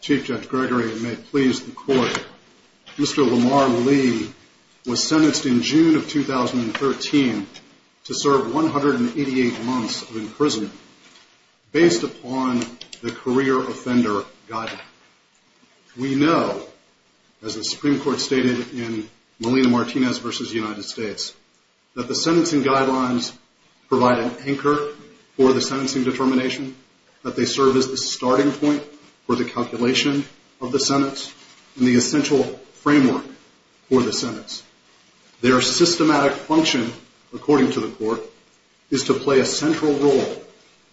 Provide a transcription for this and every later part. Chief Judge Gregory, and may it please the Court, Mr. Lamar Lee was sentenced in June of 2013 to serve 188 months in prison based upon the career offender guideline. We know, as the Supreme Court stated in Molina-Martinez v. United States, that the sentencing guidelines provide an anchor for the sentencing determination, that they serve as the starting point for the calculation of the sentence and the essential framework for the sentence. Their systematic function, according to the Court, is to play a central role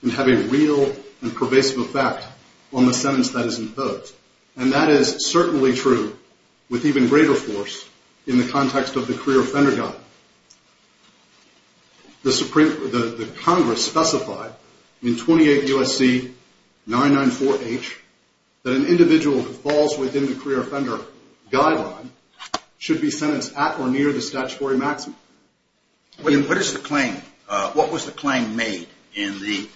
and have a real and pervasive effect on the sentence that is imposed. And that is certainly true with even greater force in the context of the career offender guideline. The Congress specified in 28 U.S.C. 994H that an individual who falls within the career offender guideline should be sentenced at or near the statutory maximum. What was the claim made in the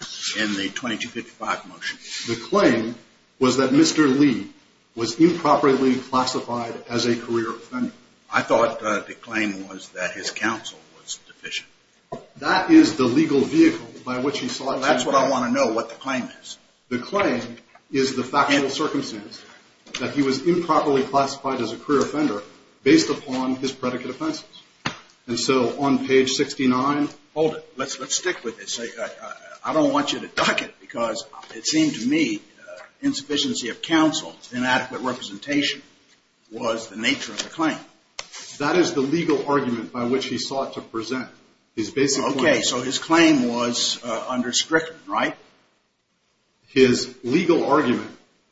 2255 motion? The claim was that Mr. Lee was a career offender. I thought the claim was that his counsel was deficient. That is the legal vehicle by which he sought to... That's what I want to know, what the claim is. The claim is the factual circumstance that he was improperly classified as a career offender based upon his predicate offenses. And so on page 69... Hold it. Let's stick with this. I don't want you to duck it because it seemed to me That is the legal argument by which he sought to present his basic claim. Okay, so his claim was understricted, right? His legal argument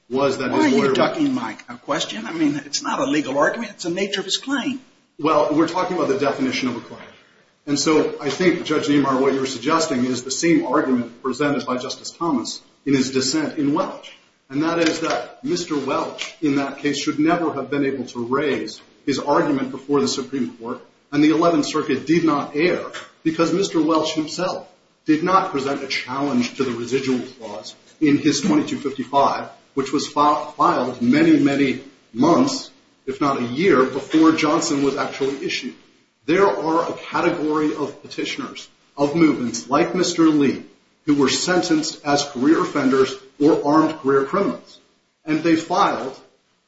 was that... Why are you ducking my question? I mean, it's not a legal argument. It's the nature of his claim. Well, we're talking about the definition of a claim. And so I think, Judge Niemeyer, what you're suggesting is the same argument presented by Justice Thomas in his 2255, which was filed many, many months, if not a year, before Johnson was actually issued. There are a category of petitioners, of movements like Mr. Lee, who were sentenced as career offenders or armed career criminals. And they filed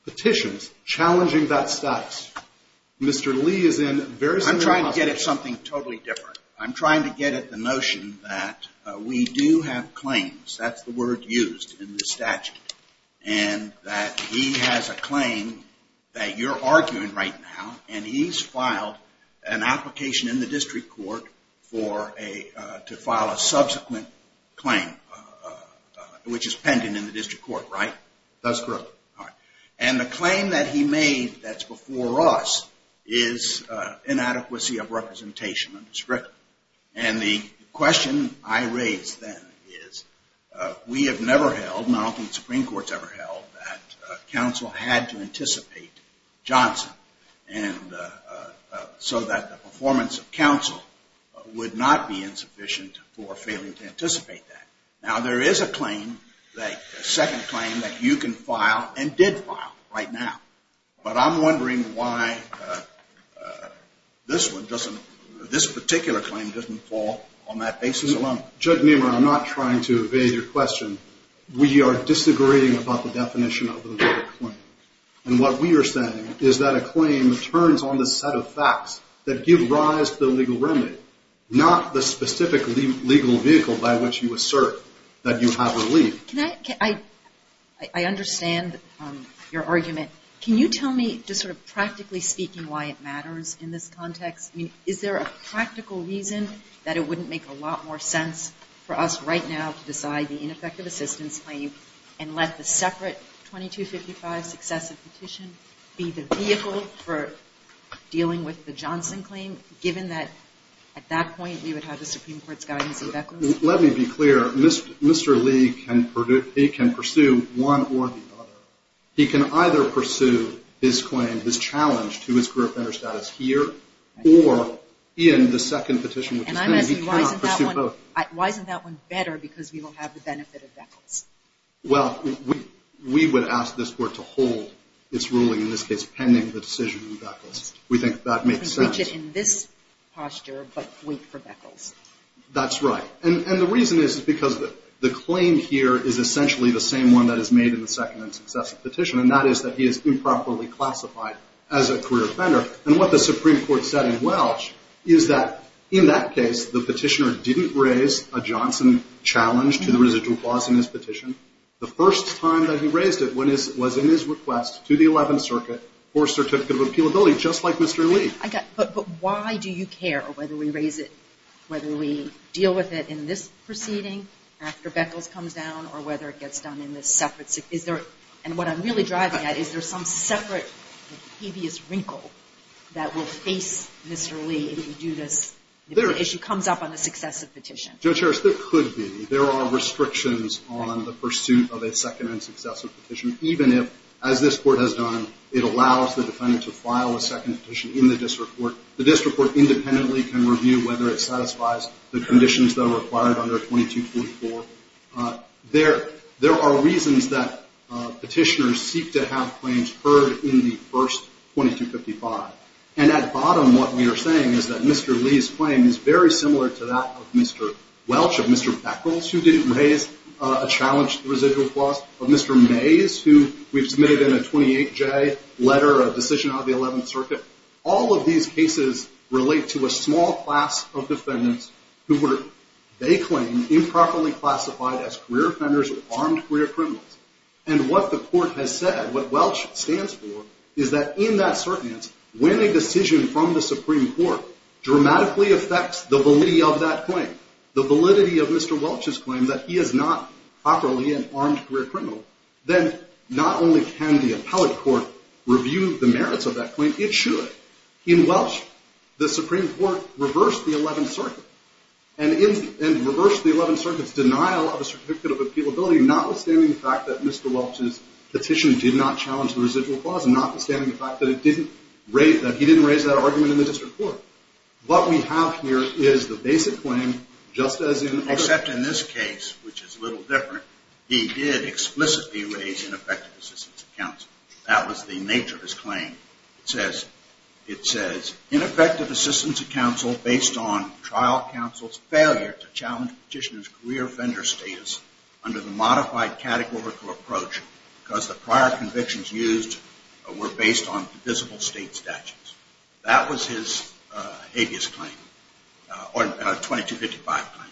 petitions challenging that status. Mr. Lee is in very similar... I'm trying to get at something totally different. I'm trying to get at the notion that we do have claims. That's the word used in the statute. And that he has a claim that you're arguing right now, and he's filed an application in which is pending in the district court, right? That's correct. And the claim that he made that's before us is inadequacy of representation and description. And the question I raised then is, we have never held, not only the Supreme Court's ever held, that counsel had to anticipate Johnson so that the performance of counsel would not be insufficient for failing to anticipate that. Now, there is a claim, a second claim that you can file and did file right now. But I'm wondering why this one doesn't, this particular claim doesn't fall on that basis alone. Judge Niemeyer, I'm not trying to evade your question. We are disagreeing about the definition of a claim that turns on the set of facts that give rise to the legal remedy, not the specific legal vehicle by which you assert that you have relief. I understand your argument. Can you tell me just sort of practically speaking why it matters in this context? I mean, is there a practical reason that it wouldn't make a lot more sense for us right now to claim and let the separate 2255 successive petition be the vehicle for dealing with the Johnson claim, given that at that point, we would have the Supreme Court's guidance and beckons? Let me be clear. Mr. Lee can pursue one or the other. He can either pursue his claim, his challenge to his career of better status here or in the second petition. And I'm asking why isn't that one better because we will have the benefit of that? Well, we would ask this court to hold its ruling in this case pending the decision. We think that makes sense in this posture, but wait for that. That's right. And the reason is because the claim here is essentially the same one that is made in the second and successive petition. And that is that he is improperly challenged to the residual clause in his petition. The first time that he raised it was in his request to the 11th Circuit for certificate of appealability, just like Mr. Lee. But why do you care whether we raise it, whether we deal with it in this proceeding after Beckles comes down or whether it gets done in this separate? And what I'm really driving at, is there some separate habeas wrinkle that will face Mr. Lee if we do this, if the issue comes up on the successive petition? Judge Harris, there could be. There are restrictions on the pursuit of a second and successive petition, even if, as this Court has done, it allows the defendant to file a second petition in the district court. The district court independently can review whether it satisfies the first 2255. And at bottom, what we are saying is that Mr. Lee's claim is very similar to that of Mr. Welch, of Mr. Beckles, who didn't raise a challenge to the residual clause, of Mr. Mays, who we've submitted in a 28J letter, a decision out of the 11th Circuit. All of these cases relate to a small class of defendants who were, they claim, improperly classified as career offenders or armed career criminals. And what the Court has said, what Welch stands for, is that in that circumstance, when a decision from the Supreme Court dramatically affects the validity of that claim, the validity of Mr. Welch's claim that he is not properly an armed career criminal, then not only can the appellate court review the merits of that claim, it should. In Welch, the Supreme Court reversed the 11th Circuit's decision, in fact, that Mr. Welch's petition did not challenge the residual clause, notwithstanding the fact that he didn't raise that argument in the district court. What we have here is the basic claim, just as in other cases. Except in this case, which is a little different, he did explicitly raise ineffective assistance of counsel. That was the nature of his claim. It says, ineffective assistance of counsel based on trial counsel's failure to challenge petitioner's career offender status under the modified categorical approach because the prior convictions used were based on divisible state statutes. That was his habeas claim, or 2255 claim.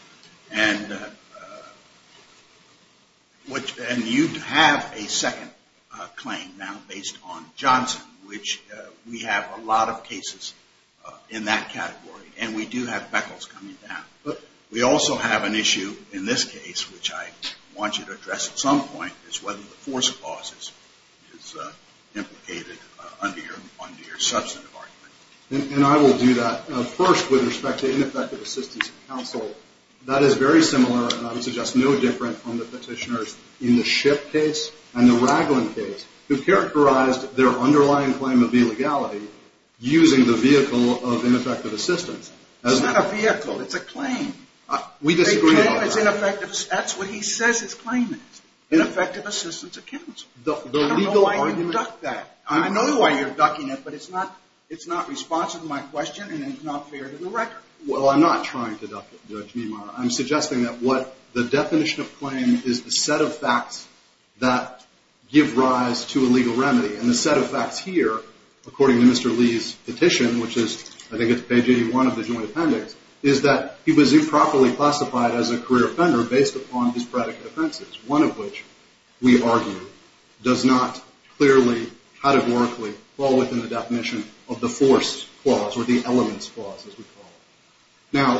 And you have a second claim now based on Johnson, which we have a lot of cases in that category. And we do have an issue in this case, which I want you to address at some point, is whether the force clause is implicated under your substantive argument. And I will do that. First, with respect to ineffective assistance of counsel, that is very similar, and I would suggest no different from the petitioners in the Shipp case and the Ragland case, who characterized their underlying claim of illegality using the vehicle of ineffective assistance. It's not a vehicle. It's a claim. We disagree about that. A claim is ineffective. That's what he says his claim is, ineffective assistance of counsel. I don't know why you duck that. I know why you're ducking it, but it's not responsive to my question and it's not fair to the record. Well, I'm not trying to duck it, Judge Niemeyer. I'm suggesting that what the definition of claim is the set of facts that give rise to a legal appendix is that he was improperly classified as a career offender based upon his predicate offenses, one of which we argue does not clearly, categorically, fall within the definition of the force clause or the elements clause, as we call it. Now,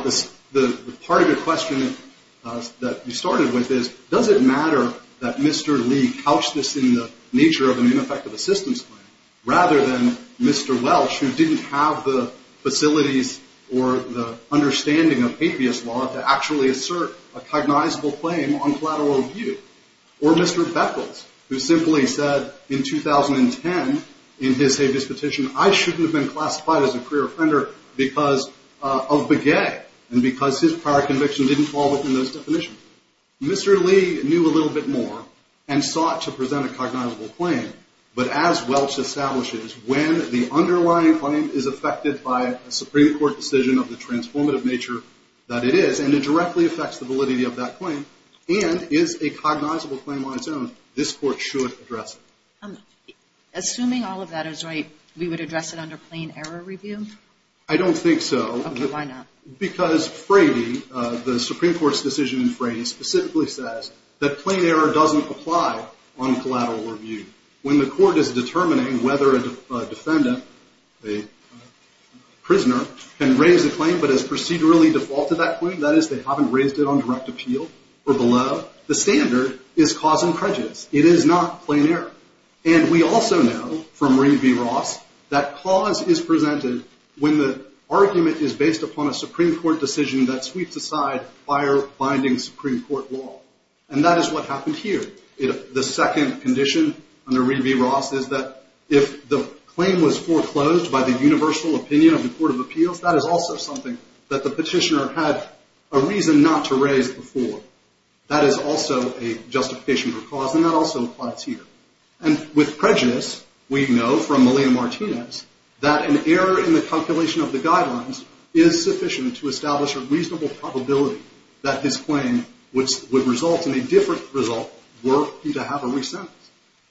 the part of your question that you started with is, does it matter that Mr. Lee couched this in the nature of an ineffective assistance claim rather than Mr. Welch, who didn't have the facilities or the understanding of habeas law to actually assert a cognizable claim on collateral review, or Mr. Beckles, who simply said in 2010 in his habeas petition, I shouldn't have been classified as a career offender because of beguet and because his prior conviction didn't fall within those definitions. Mr. Lee knew a little bit more and sought to present a cognizable claim, but as Welch establishes, when the underlying claim is affected by a Supreme Court decision of the transformative nature that it is and it directly affects the validity of that claim and is a cognizable claim on its own, this Court should address it. Assuming all of that is right, we would address it under plain error review? I don't think so. Okay, why not? Because Frady, the Supreme Court's decision in Frady specifically says that plain error doesn't apply on collateral review. When the Court is determining whether a defendant, a prisoner, can raise a claim but has procedurally defaulted that claim, that is, they haven't raised it on direct appeal or below, the standard is cause and prejudice. It is not plain error. And we also know from Reed v. Ross that cause is presented when the argument is based upon a Supreme Court decision that sweeps aside fire-binding Supreme Court law, and that is what happened here. The second condition under Reed v. Ross is that if the claim was foreclosed by the universal opinion of the Court of Appeals, that is also something that the petitioner had a reason not to raise before. That is also a justification for cause, and that also applies here. And with prejudice, we know from Melina Martinez that an error in the calculation of the guidelines is sufficient to establish a reasonable probability that his claim would result in a different result were he to have a re-sentence.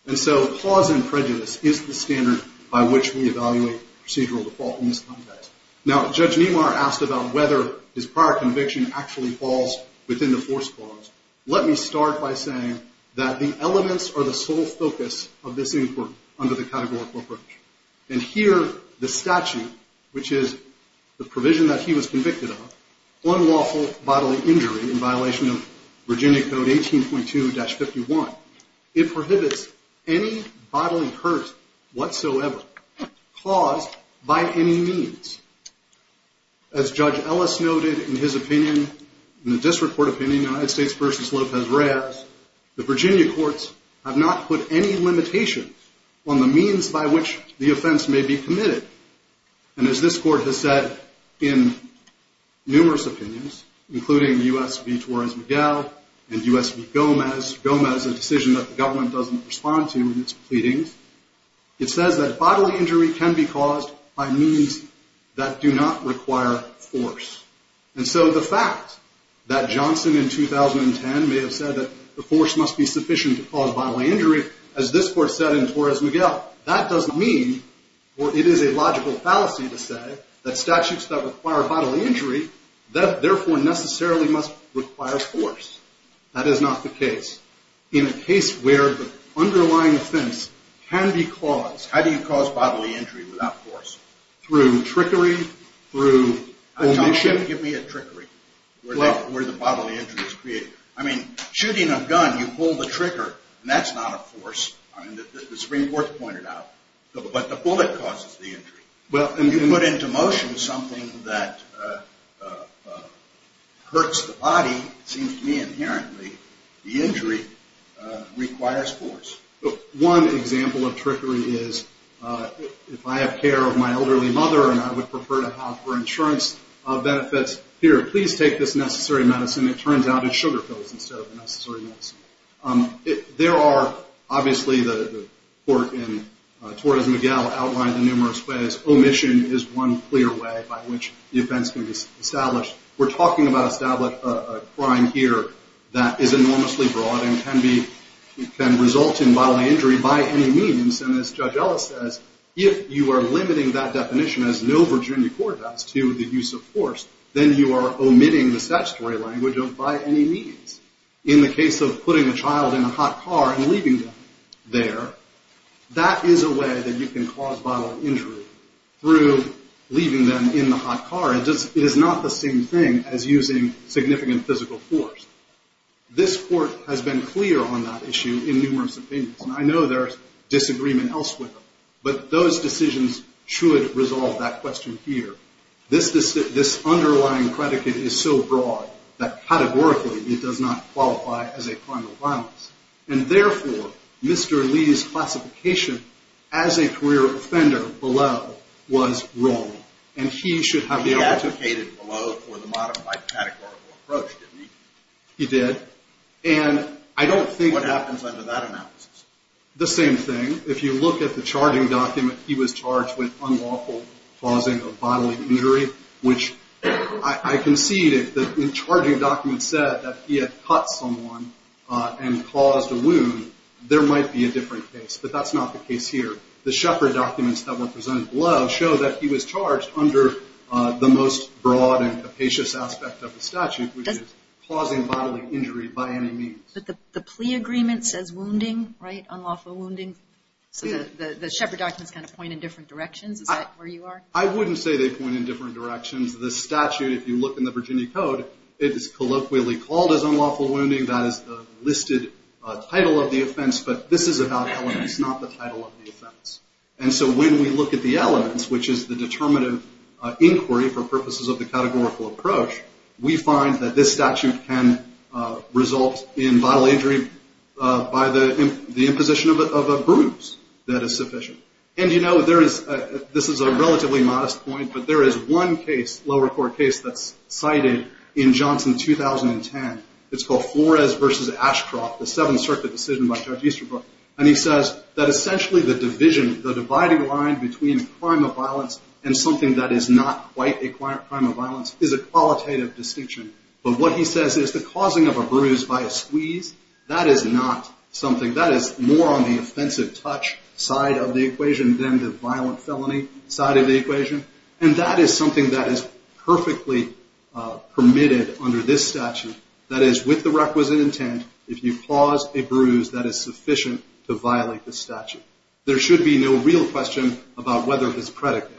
And so cause and prejudice is the standard by which we evaluate procedural default in this context. Now, Judge Nemar asked about whether his prior conviction actually falls within the force clause. Let me start by saying that the elements are the sole focus of this inquiry under the categorical approach. And here, the statute, which is the provision that he was convicted of, unlawful bodily injury in violation of Virginia Code 18.2-51, it prohibits any bodily hurt whatsoever caused by any means. As Judge Ellis noted in his opinion, in the district court opinion, United States v. Lopez-Reyes, the Virginia courts have not put any limitations on the means by which the offense may be committed. And as this court has said in numerous opinions, including U.S. v. Torres-Miguel and U.S. v. Gomez, Gomez, a decision that the government doesn't respond to in its pleadings, it says that bodily injury can be caused by means that do not require force. And so the fact that Johnson in 2010 may have said that the force must be sufficient to cause bodily injury, as this court said in Torres-Miguel, that doesn't mean, or it is a logical fallacy to say, that statutes that require bodily injury therefore necessarily must require force. That is not the case. In a case where the underlying offense can be caused, how do you cause bodily injury without force? Through trickery, through omission? Give me a trickery, where the bodily injury is created. I mean, shooting a gun, you pull the trigger, and that's not a force. I mean, the Supreme Court pointed out. But the bullet causes the injury. Well, and you can put into motion something that hurts the body. It seems to me inherently the injury requires force. One example of trickery is if I have care of my elderly mother and I would prefer to have her insurance benefits, here, please take this necessary medicine. It turns out it's sugar pills instead of the necessary medicine. There are, obviously, the court in Torres-Miguel outlined in numerous ways, omission is one clear way by which the offense can be established. We're talking about establishing a crime here that is enormously broad and can result in bodily injury by any means. And as Judge Ellis says, if you are limiting that definition, as no Virginia court does, to the use of force, then you are omitting the statutory language of by any means. In the case of putting a child in a hot car and leaving them there, that is a way that you can cause bodily injury through leaving them in the hot car. It is not the same thing as using significant physical force. This court has been clear on that issue in numerous opinions. And I know there is disagreement elsewhere. But those decisions should resolve that question here. This underlying predicate is so broad that categorically it does not qualify as a criminal violence. And therefore, Mr. Lee's classification as a career offender below was wrong. And he should have the opportunity. He advocated below for the modified categorical approach, didn't he? He did. And I don't think. What happens under that analysis? The same thing. If you look at the charging document, he was charged with unlawful causing of bodily injury, which I concede. The charging document said that he had cut someone and caused a wound. There might be a different case. But that's not the case here. The Shepherd documents that were presented below show that he was charged under the most broad and capacious aspect of the statute, which is causing bodily injury by any means. But the plea agreement says wounding, right? Unlawful wounding. So the Shepherd documents kind of point in different directions. Is that where you are? I wouldn't say they point in different directions. The statute, if you look in the Virginia Code, it is colloquially called as unlawful wounding. That is the listed title of the offense. But this is about elements, not the title of the offense. And so when we look at the elements, which is the determinative inquiry for purposes of the categorical approach, we find that this statute can result in bodily injury by the imposition of a bruise that is sufficient. And, you know, this is a relatively modest point, but there is one case, lower court case, that's cited in Johnson 2010. It's called Flores v. Ashcroft, the Seventh Circuit decision by Judge Easterbrook. And he says that essentially the division, the dividing line between a crime of violence and something that is not quite a crime of violence is a qualitative distinction. But what he says is the causing of a bruise by a squeeze, that is not something. That is more on the offensive touch side of the equation than the violent felony side of the equation. And that is something that is perfectly permitted under this statute. That is, with the requisite intent, if you cause a bruise, that is sufficient to violate the statute. There should be no real question about whether this predicate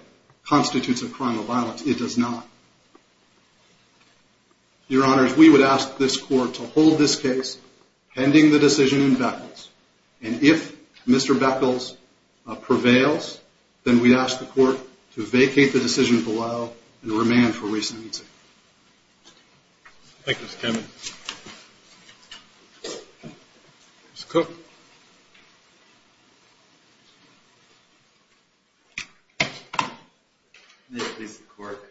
constitutes a crime of violence. It does not. Your Honors, we would ask this court to hold this case pending the decision in Beckles. And if Mr. Beckles prevails, then we ask the court to vacate the decision below and remand for re-sentencing. Thank you, Mr. Cameron. Mr. Cook. May it please the court.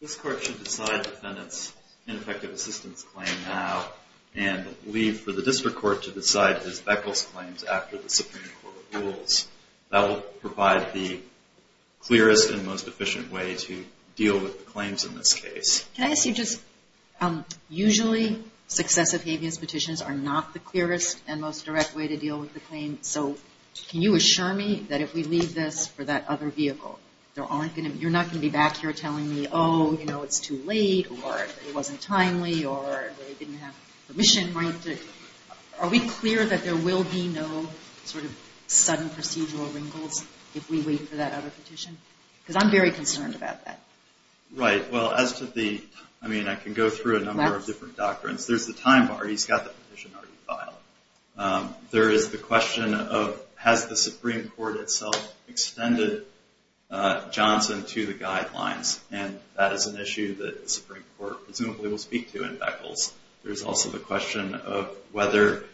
This court should decide the defendant's ineffective assistance claim now and leave for the district court to decide his Beckles claims after the Supreme Court rules. That will provide the clearest and most efficient way to deal with the claims in this case. Can I ask you just, usually successive habeas petitions are not the clearest and most direct way to deal with the claim. So can you assure me that if we leave this for that other vehicle, you're not going to be back here telling me, oh, you know, it's too late or it wasn't timely or they didn't have permission. Are we clear that there will be no sort of sudden procedural wrinkles if we wait for that other petition? Because I'm very concerned about that. Right. Well, as to the, I mean, I can go through a number of different doctrines. There's the time bar. He's got the petition already filed. There is the question of, has the Supreme Court itself extended Johnson to the guidelines? And that is an issue that the Supreme Court presumably will speak to in Beckles. There's also the question of whether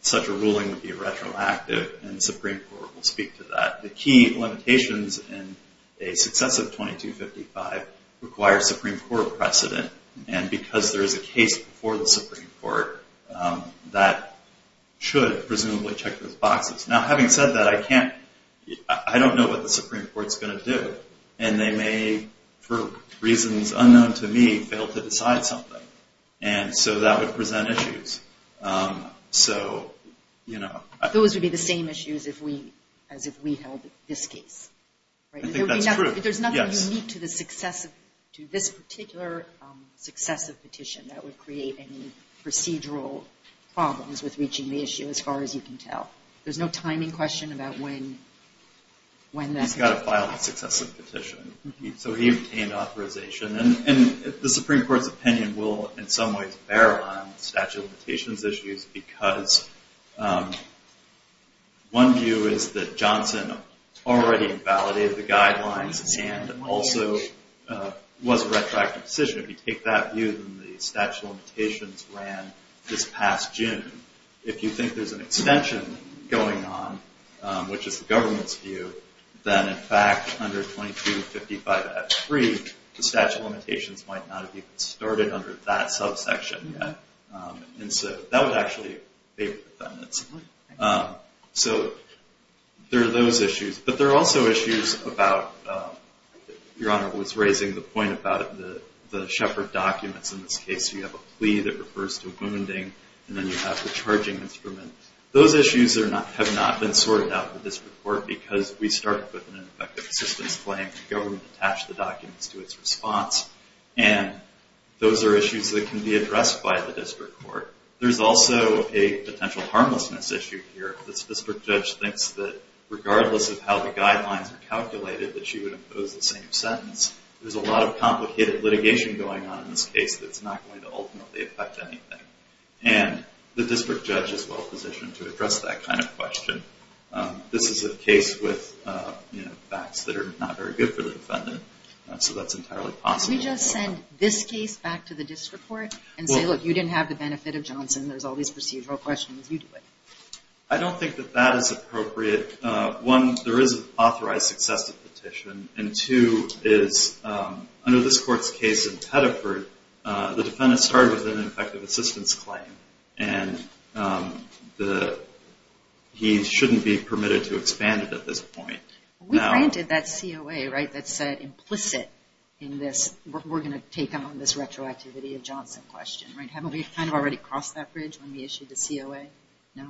such a ruling would be retroactive. And the Supreme Court will speak to that. The key limitations in a successive 2255 require Supreme Court precedent. And because there is a case before the Supreme Court, that should presumably check those boxes. Now, having said that, I can't, I don't know what the Supreme Court's going to do. And they may, for reasons unknown to me, fail to decide something. And so that would present issues. So, you know. Those would be the same issues as if we held this case. I think that's true. Yes. There's nothing unique to this particular successive petition that would create any procedural problems with reaching the issue as far as you can tell. There's no timing question about when. He's got to file a successive petition. So he obtained authorization. And the Supreme Court's opinion will in some ways bear on statute of limitations issues because one view is that Johnson already validated the guidelines and also was a retroactive decision. If you take that view, then the statute of limitations ran this past June. If you think there's an extension going on, which is the government's view, then in fact under 2255X3, the statute of limitations might not have even started under that subsection yet. And so that would actually favor defendants. So there are those issues. But there are also issues about, Your Honor was raising the point about the shepherd documents in this case. You have a plea that refers to wounding. And then you have the charging instrument. Those issues have not been sorted out in the district court because we started with an ineffective assistance claim. The government attached the documents to its response. And those are issues that can be addressed by the district court. There's also a potential harmlessness issue here. The district judge thinks that regardless of how the guidelines are calculated, that she would impose the same sentence. There's a lot of complicated litigation going on in this case that's not going to ultimately affect anything. And the district judge is well positioned to address that kind of question. This is a case with facts that are not very good for the defendant. So that's entirely possible. Can we just send this case back to the district court and say, look, you didn't have the benefit of Johnson. There's all these procedural questions. You do it. I don't think that that is appropriate. One, there is an authorized successive petition. And two is under this court's case in Pettiford, the defendant started with an ineffective assistance claim. And he shouldn't be permitted to expand it at this point. We granted that COA, right, that said implicit in this. We're going to take on this retroactivity of Johnson question, right? Haven't we kind of already crossed that bridge when we issued the COA?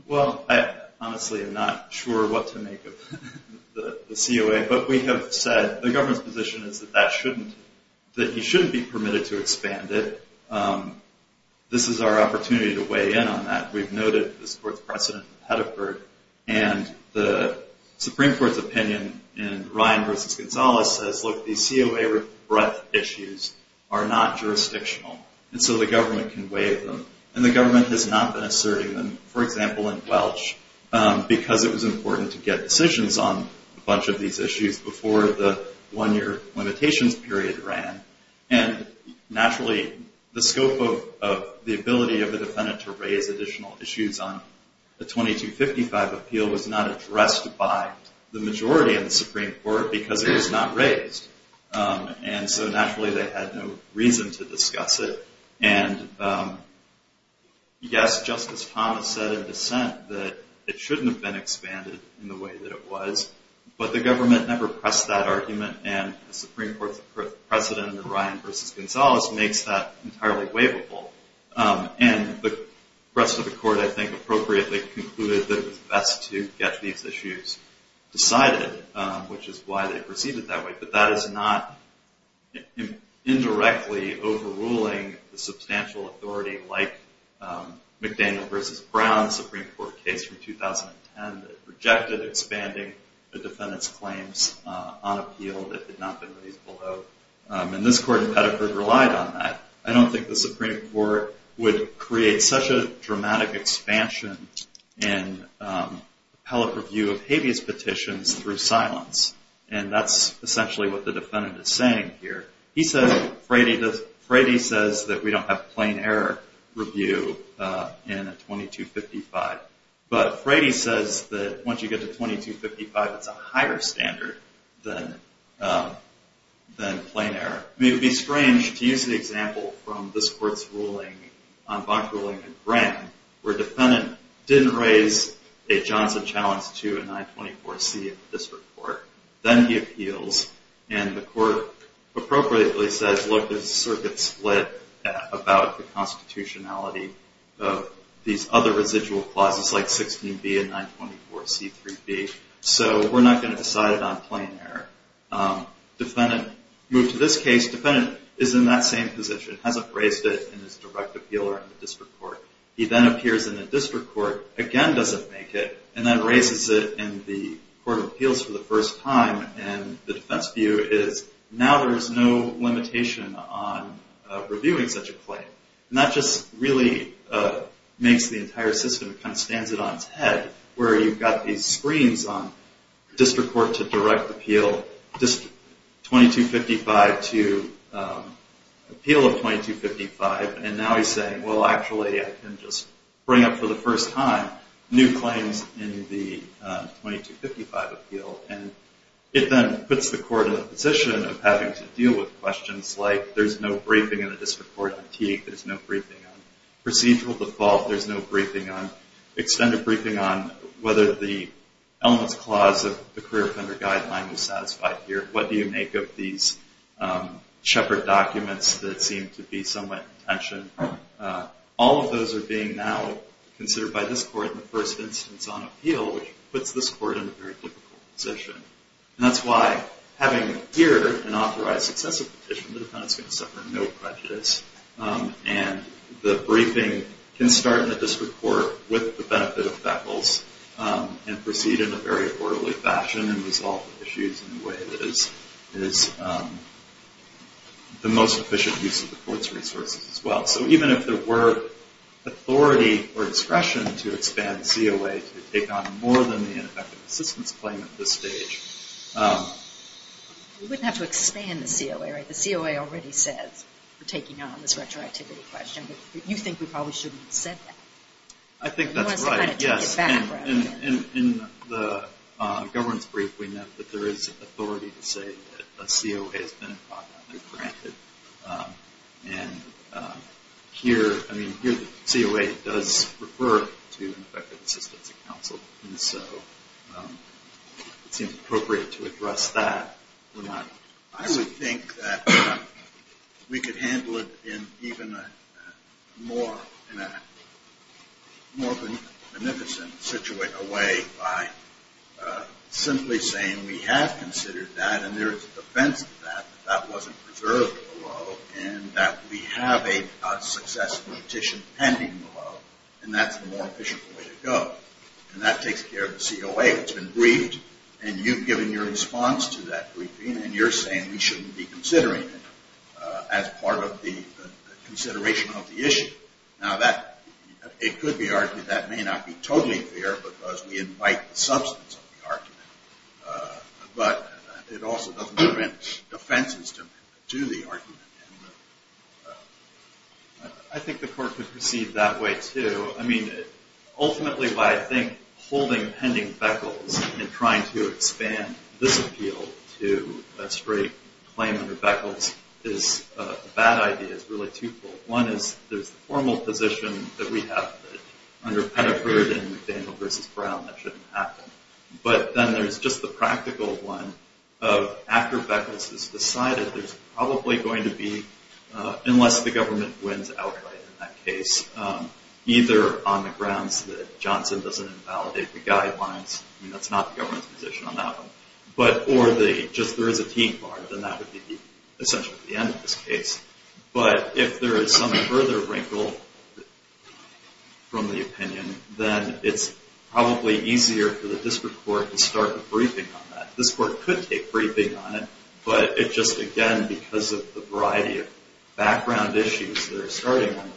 Well, I honestly am not sure what to make of the COA. But we have said the government's position is that that shouldn't, that he shouldn't be permitted to expand it. This is our opportunity to weigh in on that. We've noted this court's precedent in Pettiford. And the Supreme Court's opinion in Ryan v. Gonzalez says, look, these COA breadth issues are not jurisdictional. And so the government can weigh them. And the government has not been asserting them, for example, in Welch, because it was important to get decisions on a bunch of these issues before the one-year limitations period ran. And, naturally, the scope of the ability of the defendant to raise additional issues on the 2255 appeal was not addressed by the majority of the Supreme Court because it was not raised. And so, naturally, they had no reason to discuss it. And, yes, Justice Thomas said in dissent that it shouldn't have been expanded in the way that it was. But the government never pressed that argument. And the Supreme Court's precedent in Ryan v. Gonzalez makes that entirely weighable. And the rest of the court, I think, appropriately concluded that it was best to get these issues decided, which is why they proceeded that way. But that is not indirectly overruling the substantial authority like McDaniel v. Brown's Supreme Court case from 2010 that rejected expanding the defendant's claims on appeal that had not been raised below. And this court in Pettigrew relied on that. I don't think the Supreme Court would create such a dramatic expansion in appellate review of habeas petitions through silence. And that's essentially what the defendant is saying here. He says, Frady says that we don't have plain error review in a 2255. But Frady says that once you get to 2255, it's a higher standard than plain error. It would be strange to use the example from this court's ruling on bond ruling in Brown where defendant didn't raise a Johnson challenge to a 924C in the district court. Then he appeals. And the court appropriately says, look, there's a circuit split about the constitutionality of these other residual clauses, like 16B and 924C, 3B. So we're not going to decide it on plain error. Defendant moved to this case. Defendant is in that same position. Hasn't raised it in his direct appeal or in the district court. He then appears in the district court. Again, doesn't make it. And then raises it in the court of appeals for the first time. And the defense view is now there is no limitation on reviewing such a claim. And that just really makes the entire system kind of stands it on its head, where you've got these screens on district court to direct appeal, 2255 to appeal of 2255. And now he's saying, well, actually, I can just bring up for the first time new claims in the 2255 appeal. And it then puts the court in a position of having to deal with questions like there's no briefing in the district court. There's no briefing on procedural default. There's no briefing on extended briefing on whether the elements clause of the career offender guideline was satisfied here. What do you make of these shepherd documents that seem to be somewhat in tension? All of those are being now considered by this court in the first instance on appeal, which puts this court in a very difficult position. And that's why having here an authorized successive petition, the defendant is going to suffer no prejudice. And the briefing can start in the district court with the benefit of beckles and proceed in a very orderly fashion and resolve the issues in a way that is the most efficient use of the court's resources as well. So even if there were authority or discretion to expand COA to take on more than the ineffective assistance claim at this stage. We wouldn't have to expand the COA, right? The COA already says we're taking on this retroactivity question, but you think we probably shouldn't have said that. I think that's right. You want us to kind of take it back. In the governance brief, we know that there is authority to say that a COA has been improperly granted. And here, I mean, here the COA does refer to an effective assistance of counsel. And so it seems appropriate to address that. I would think that we could handle it in even a more beneficent way by simply saying we have considered that and there is a defense to that, that that wasn't preserved below, and that we have a successful petition pending below, and that's the more efficient way to go. And that takes care of the COA. It's been briefed, and you've given your response to that briefing, and you're saying we shouldn't be considering it as part of the consideration of the issue. Now, it could be argued that may not be totally fair because we invite the substance of the argument. But it also doesn't prevent offenses to the argument. I think the court could proceed that way, too. I mean, ultimately, why I think holding pending beckles and trying to expand this appeal to a straight claim under beckles is a bad idea. It's really twofold. One is there's a formal position that we have under Pettiford and McDaniel v. Brown that shouldn't happen. But then there's just the practical one of after beckles is decided, there's probably going to be, unless the government wins outright in that case, either on the grounds that Johnson doesn't invalidate the guidelines. I mean, that's not the government's position on that one. Or just there is a team bar, then that would be essentially the end of this case. But if there is some further wrinkle from the opinion, then it's probably easier for the district court to start a briefing on that. This court could take briefing on it. But it just, again, because of the variety of background issues that are starting on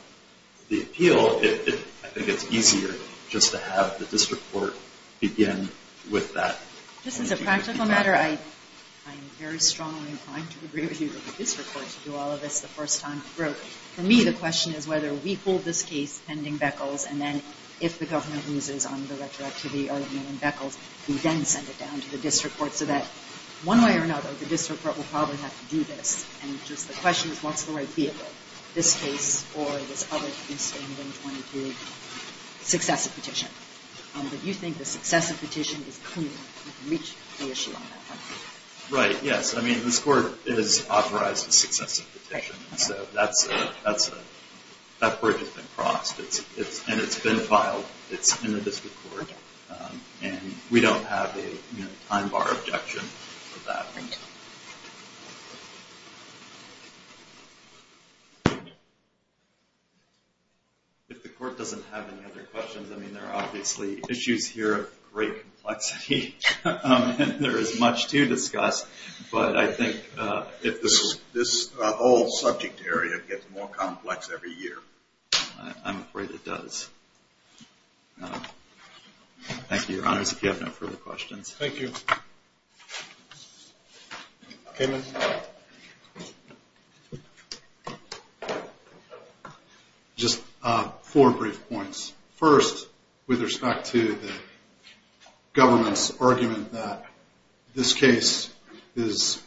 the appeal, I think it's easier just to have the district court begin with that. Just as a practical matter, I am very strongly inclined to agree with you that the district court should do all of this the first time through. For me, the question is whether we hold this case pending beckles, and then if the government loses on the retroactivity argument in beckles, we then send it down to the district court so that, one way or another, the district court will probably have to do this. And just the question is what's the right vehicle, this case or this other piece of the 22 successive petition? Do you think the successive petition is clean enough to reach the issue on that one? Right, yes. I mean, this court has authorized a successive petition. So that bridge has been crossed. And it's been filed. It's in the district court. And we don't have a time bar objection for that. Thank you. If the court doesn't have any other questions, I mean, there are obviously issues here of great complexity. And there is much to discuss. But I think if this whole subject area gets more complex every year. I'm afraid it does. Thank you, Your Honors. If you have no further questions. Thank you. Thank you. Damon? Just four brief points. First, with respect to the government's argument that this case is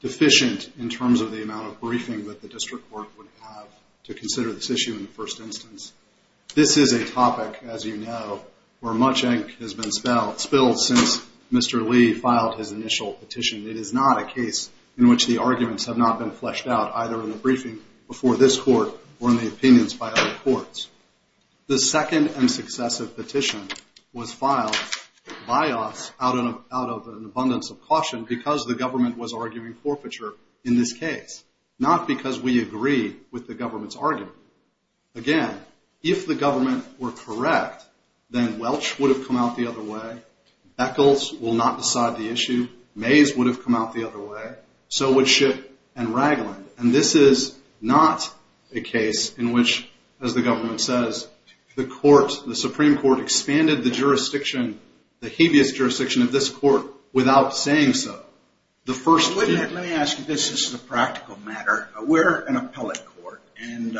deficient in terms of the amount of briefing that the district court would have to consider this issue in the first instance. This is a topic, as you know, where much ink has been spilled since Mr. Lee filed his initial petition. It is not a case in which the arguments have not been fleshed out either in the briefing before this court or in the opinions by other courts. The second and successive petition was filed by us out of an abundance of caution because the government was arguing forfeiture in this case. Not because we agree with the government's argument. Again, if the government were correct, then Welch would have come out the other way. Beckles will not decide the issue. Mays would have come out the other way. So would Schitt and Ragland. And this is not a case in which, as the government says, the Supreme Court expanded the jurisdiction, the habeas jurisdiction of this court without saying so. Let me ask you, this is a practical matter. We're an appellate court, and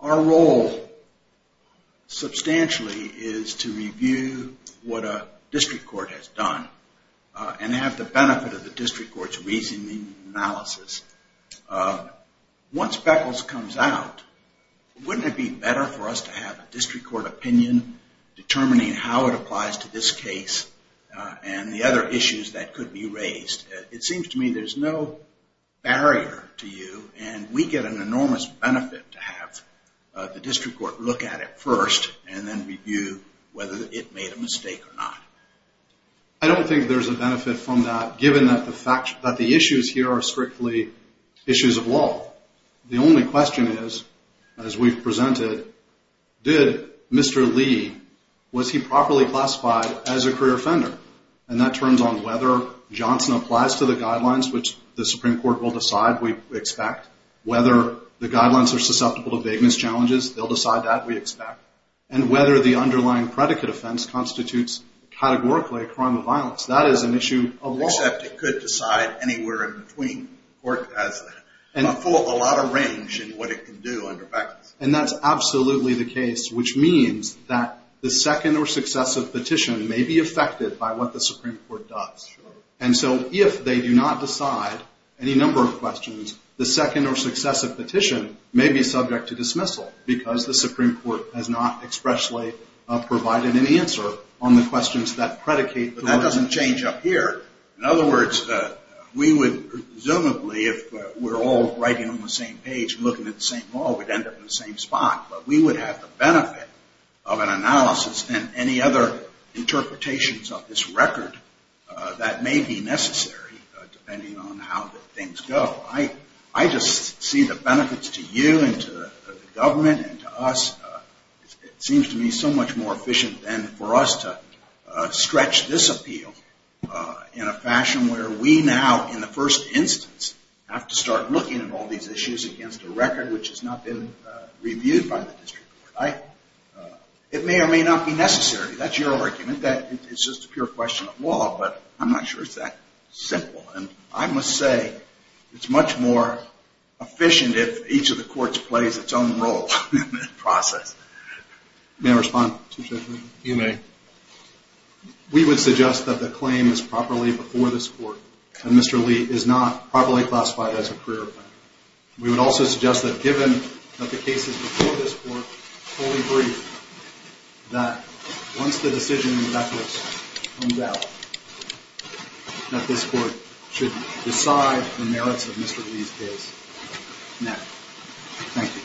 our role substantially is to review what a district court has done and have the benefit of the district court's reasoning analysis. Once Beckles comes out, wouldn't it be better for us to have a district court opinion determining how it applies to this case and the other issues that could be raised? It seems to me there's no barrier to you, and we get an enormous benefit to have the district court look at it first and then review whether it made a mistake or not. I don't think there's a benefit from that, given that the issues here are strictly issues of law. The only question is, as we've presented, did Mr. Lee, was he properly classified as a career offender? And that turns on whether Johnson applies to the guidelines, which the Supreme Court will decide, we expect, whether the guidelines are susceptible to vagueness challenges, they'll decide that, we expect, and whether the underlying predicate offense constitutes categorically a crime of violence. That is an issue of law. Except it could decide anywhere in between. The court has a lot of range in what it can do under Beckles. And that's absolutely the case, which means that the second or successive petition may be affected by what the Supreme Court does. And so if they do not decide any number of questions, the second or successive petition may be subject to dismissal, because the Supreme Court has not expressly provided any answer on the questions that predicate. But that doesn't change up here. In other words, we would presumably, if we're all writing on the same page and looking at the same wall, we'd end up in the same spot. But we would have the benefit of an analysis and any other interpretations of this record that may be necessary depending on how things go. I just see the benefits to you and to the government and to us. It seems to me so much more efficient than for us to stretch this appeal in a fashion where we now, in the first instance, have to start looking at all these issues against a record which has not been reviewed by the district court. It may or may not be necessary. That's your argument. It's just a pure question of law. But I'm not sure it's that simple. And I must say it's much more efficient if each of the courts plays its own role in the process. May I respond? You may. We would suggest that the claim is properly before this court and Mr. Lee is not properly classified as a career offender. We would also suggest that given that the case is before this court, fully brief that once the decision in that case comes out, that this court should decide the merits of Mr. Lee's case now. Thank you. Thank you.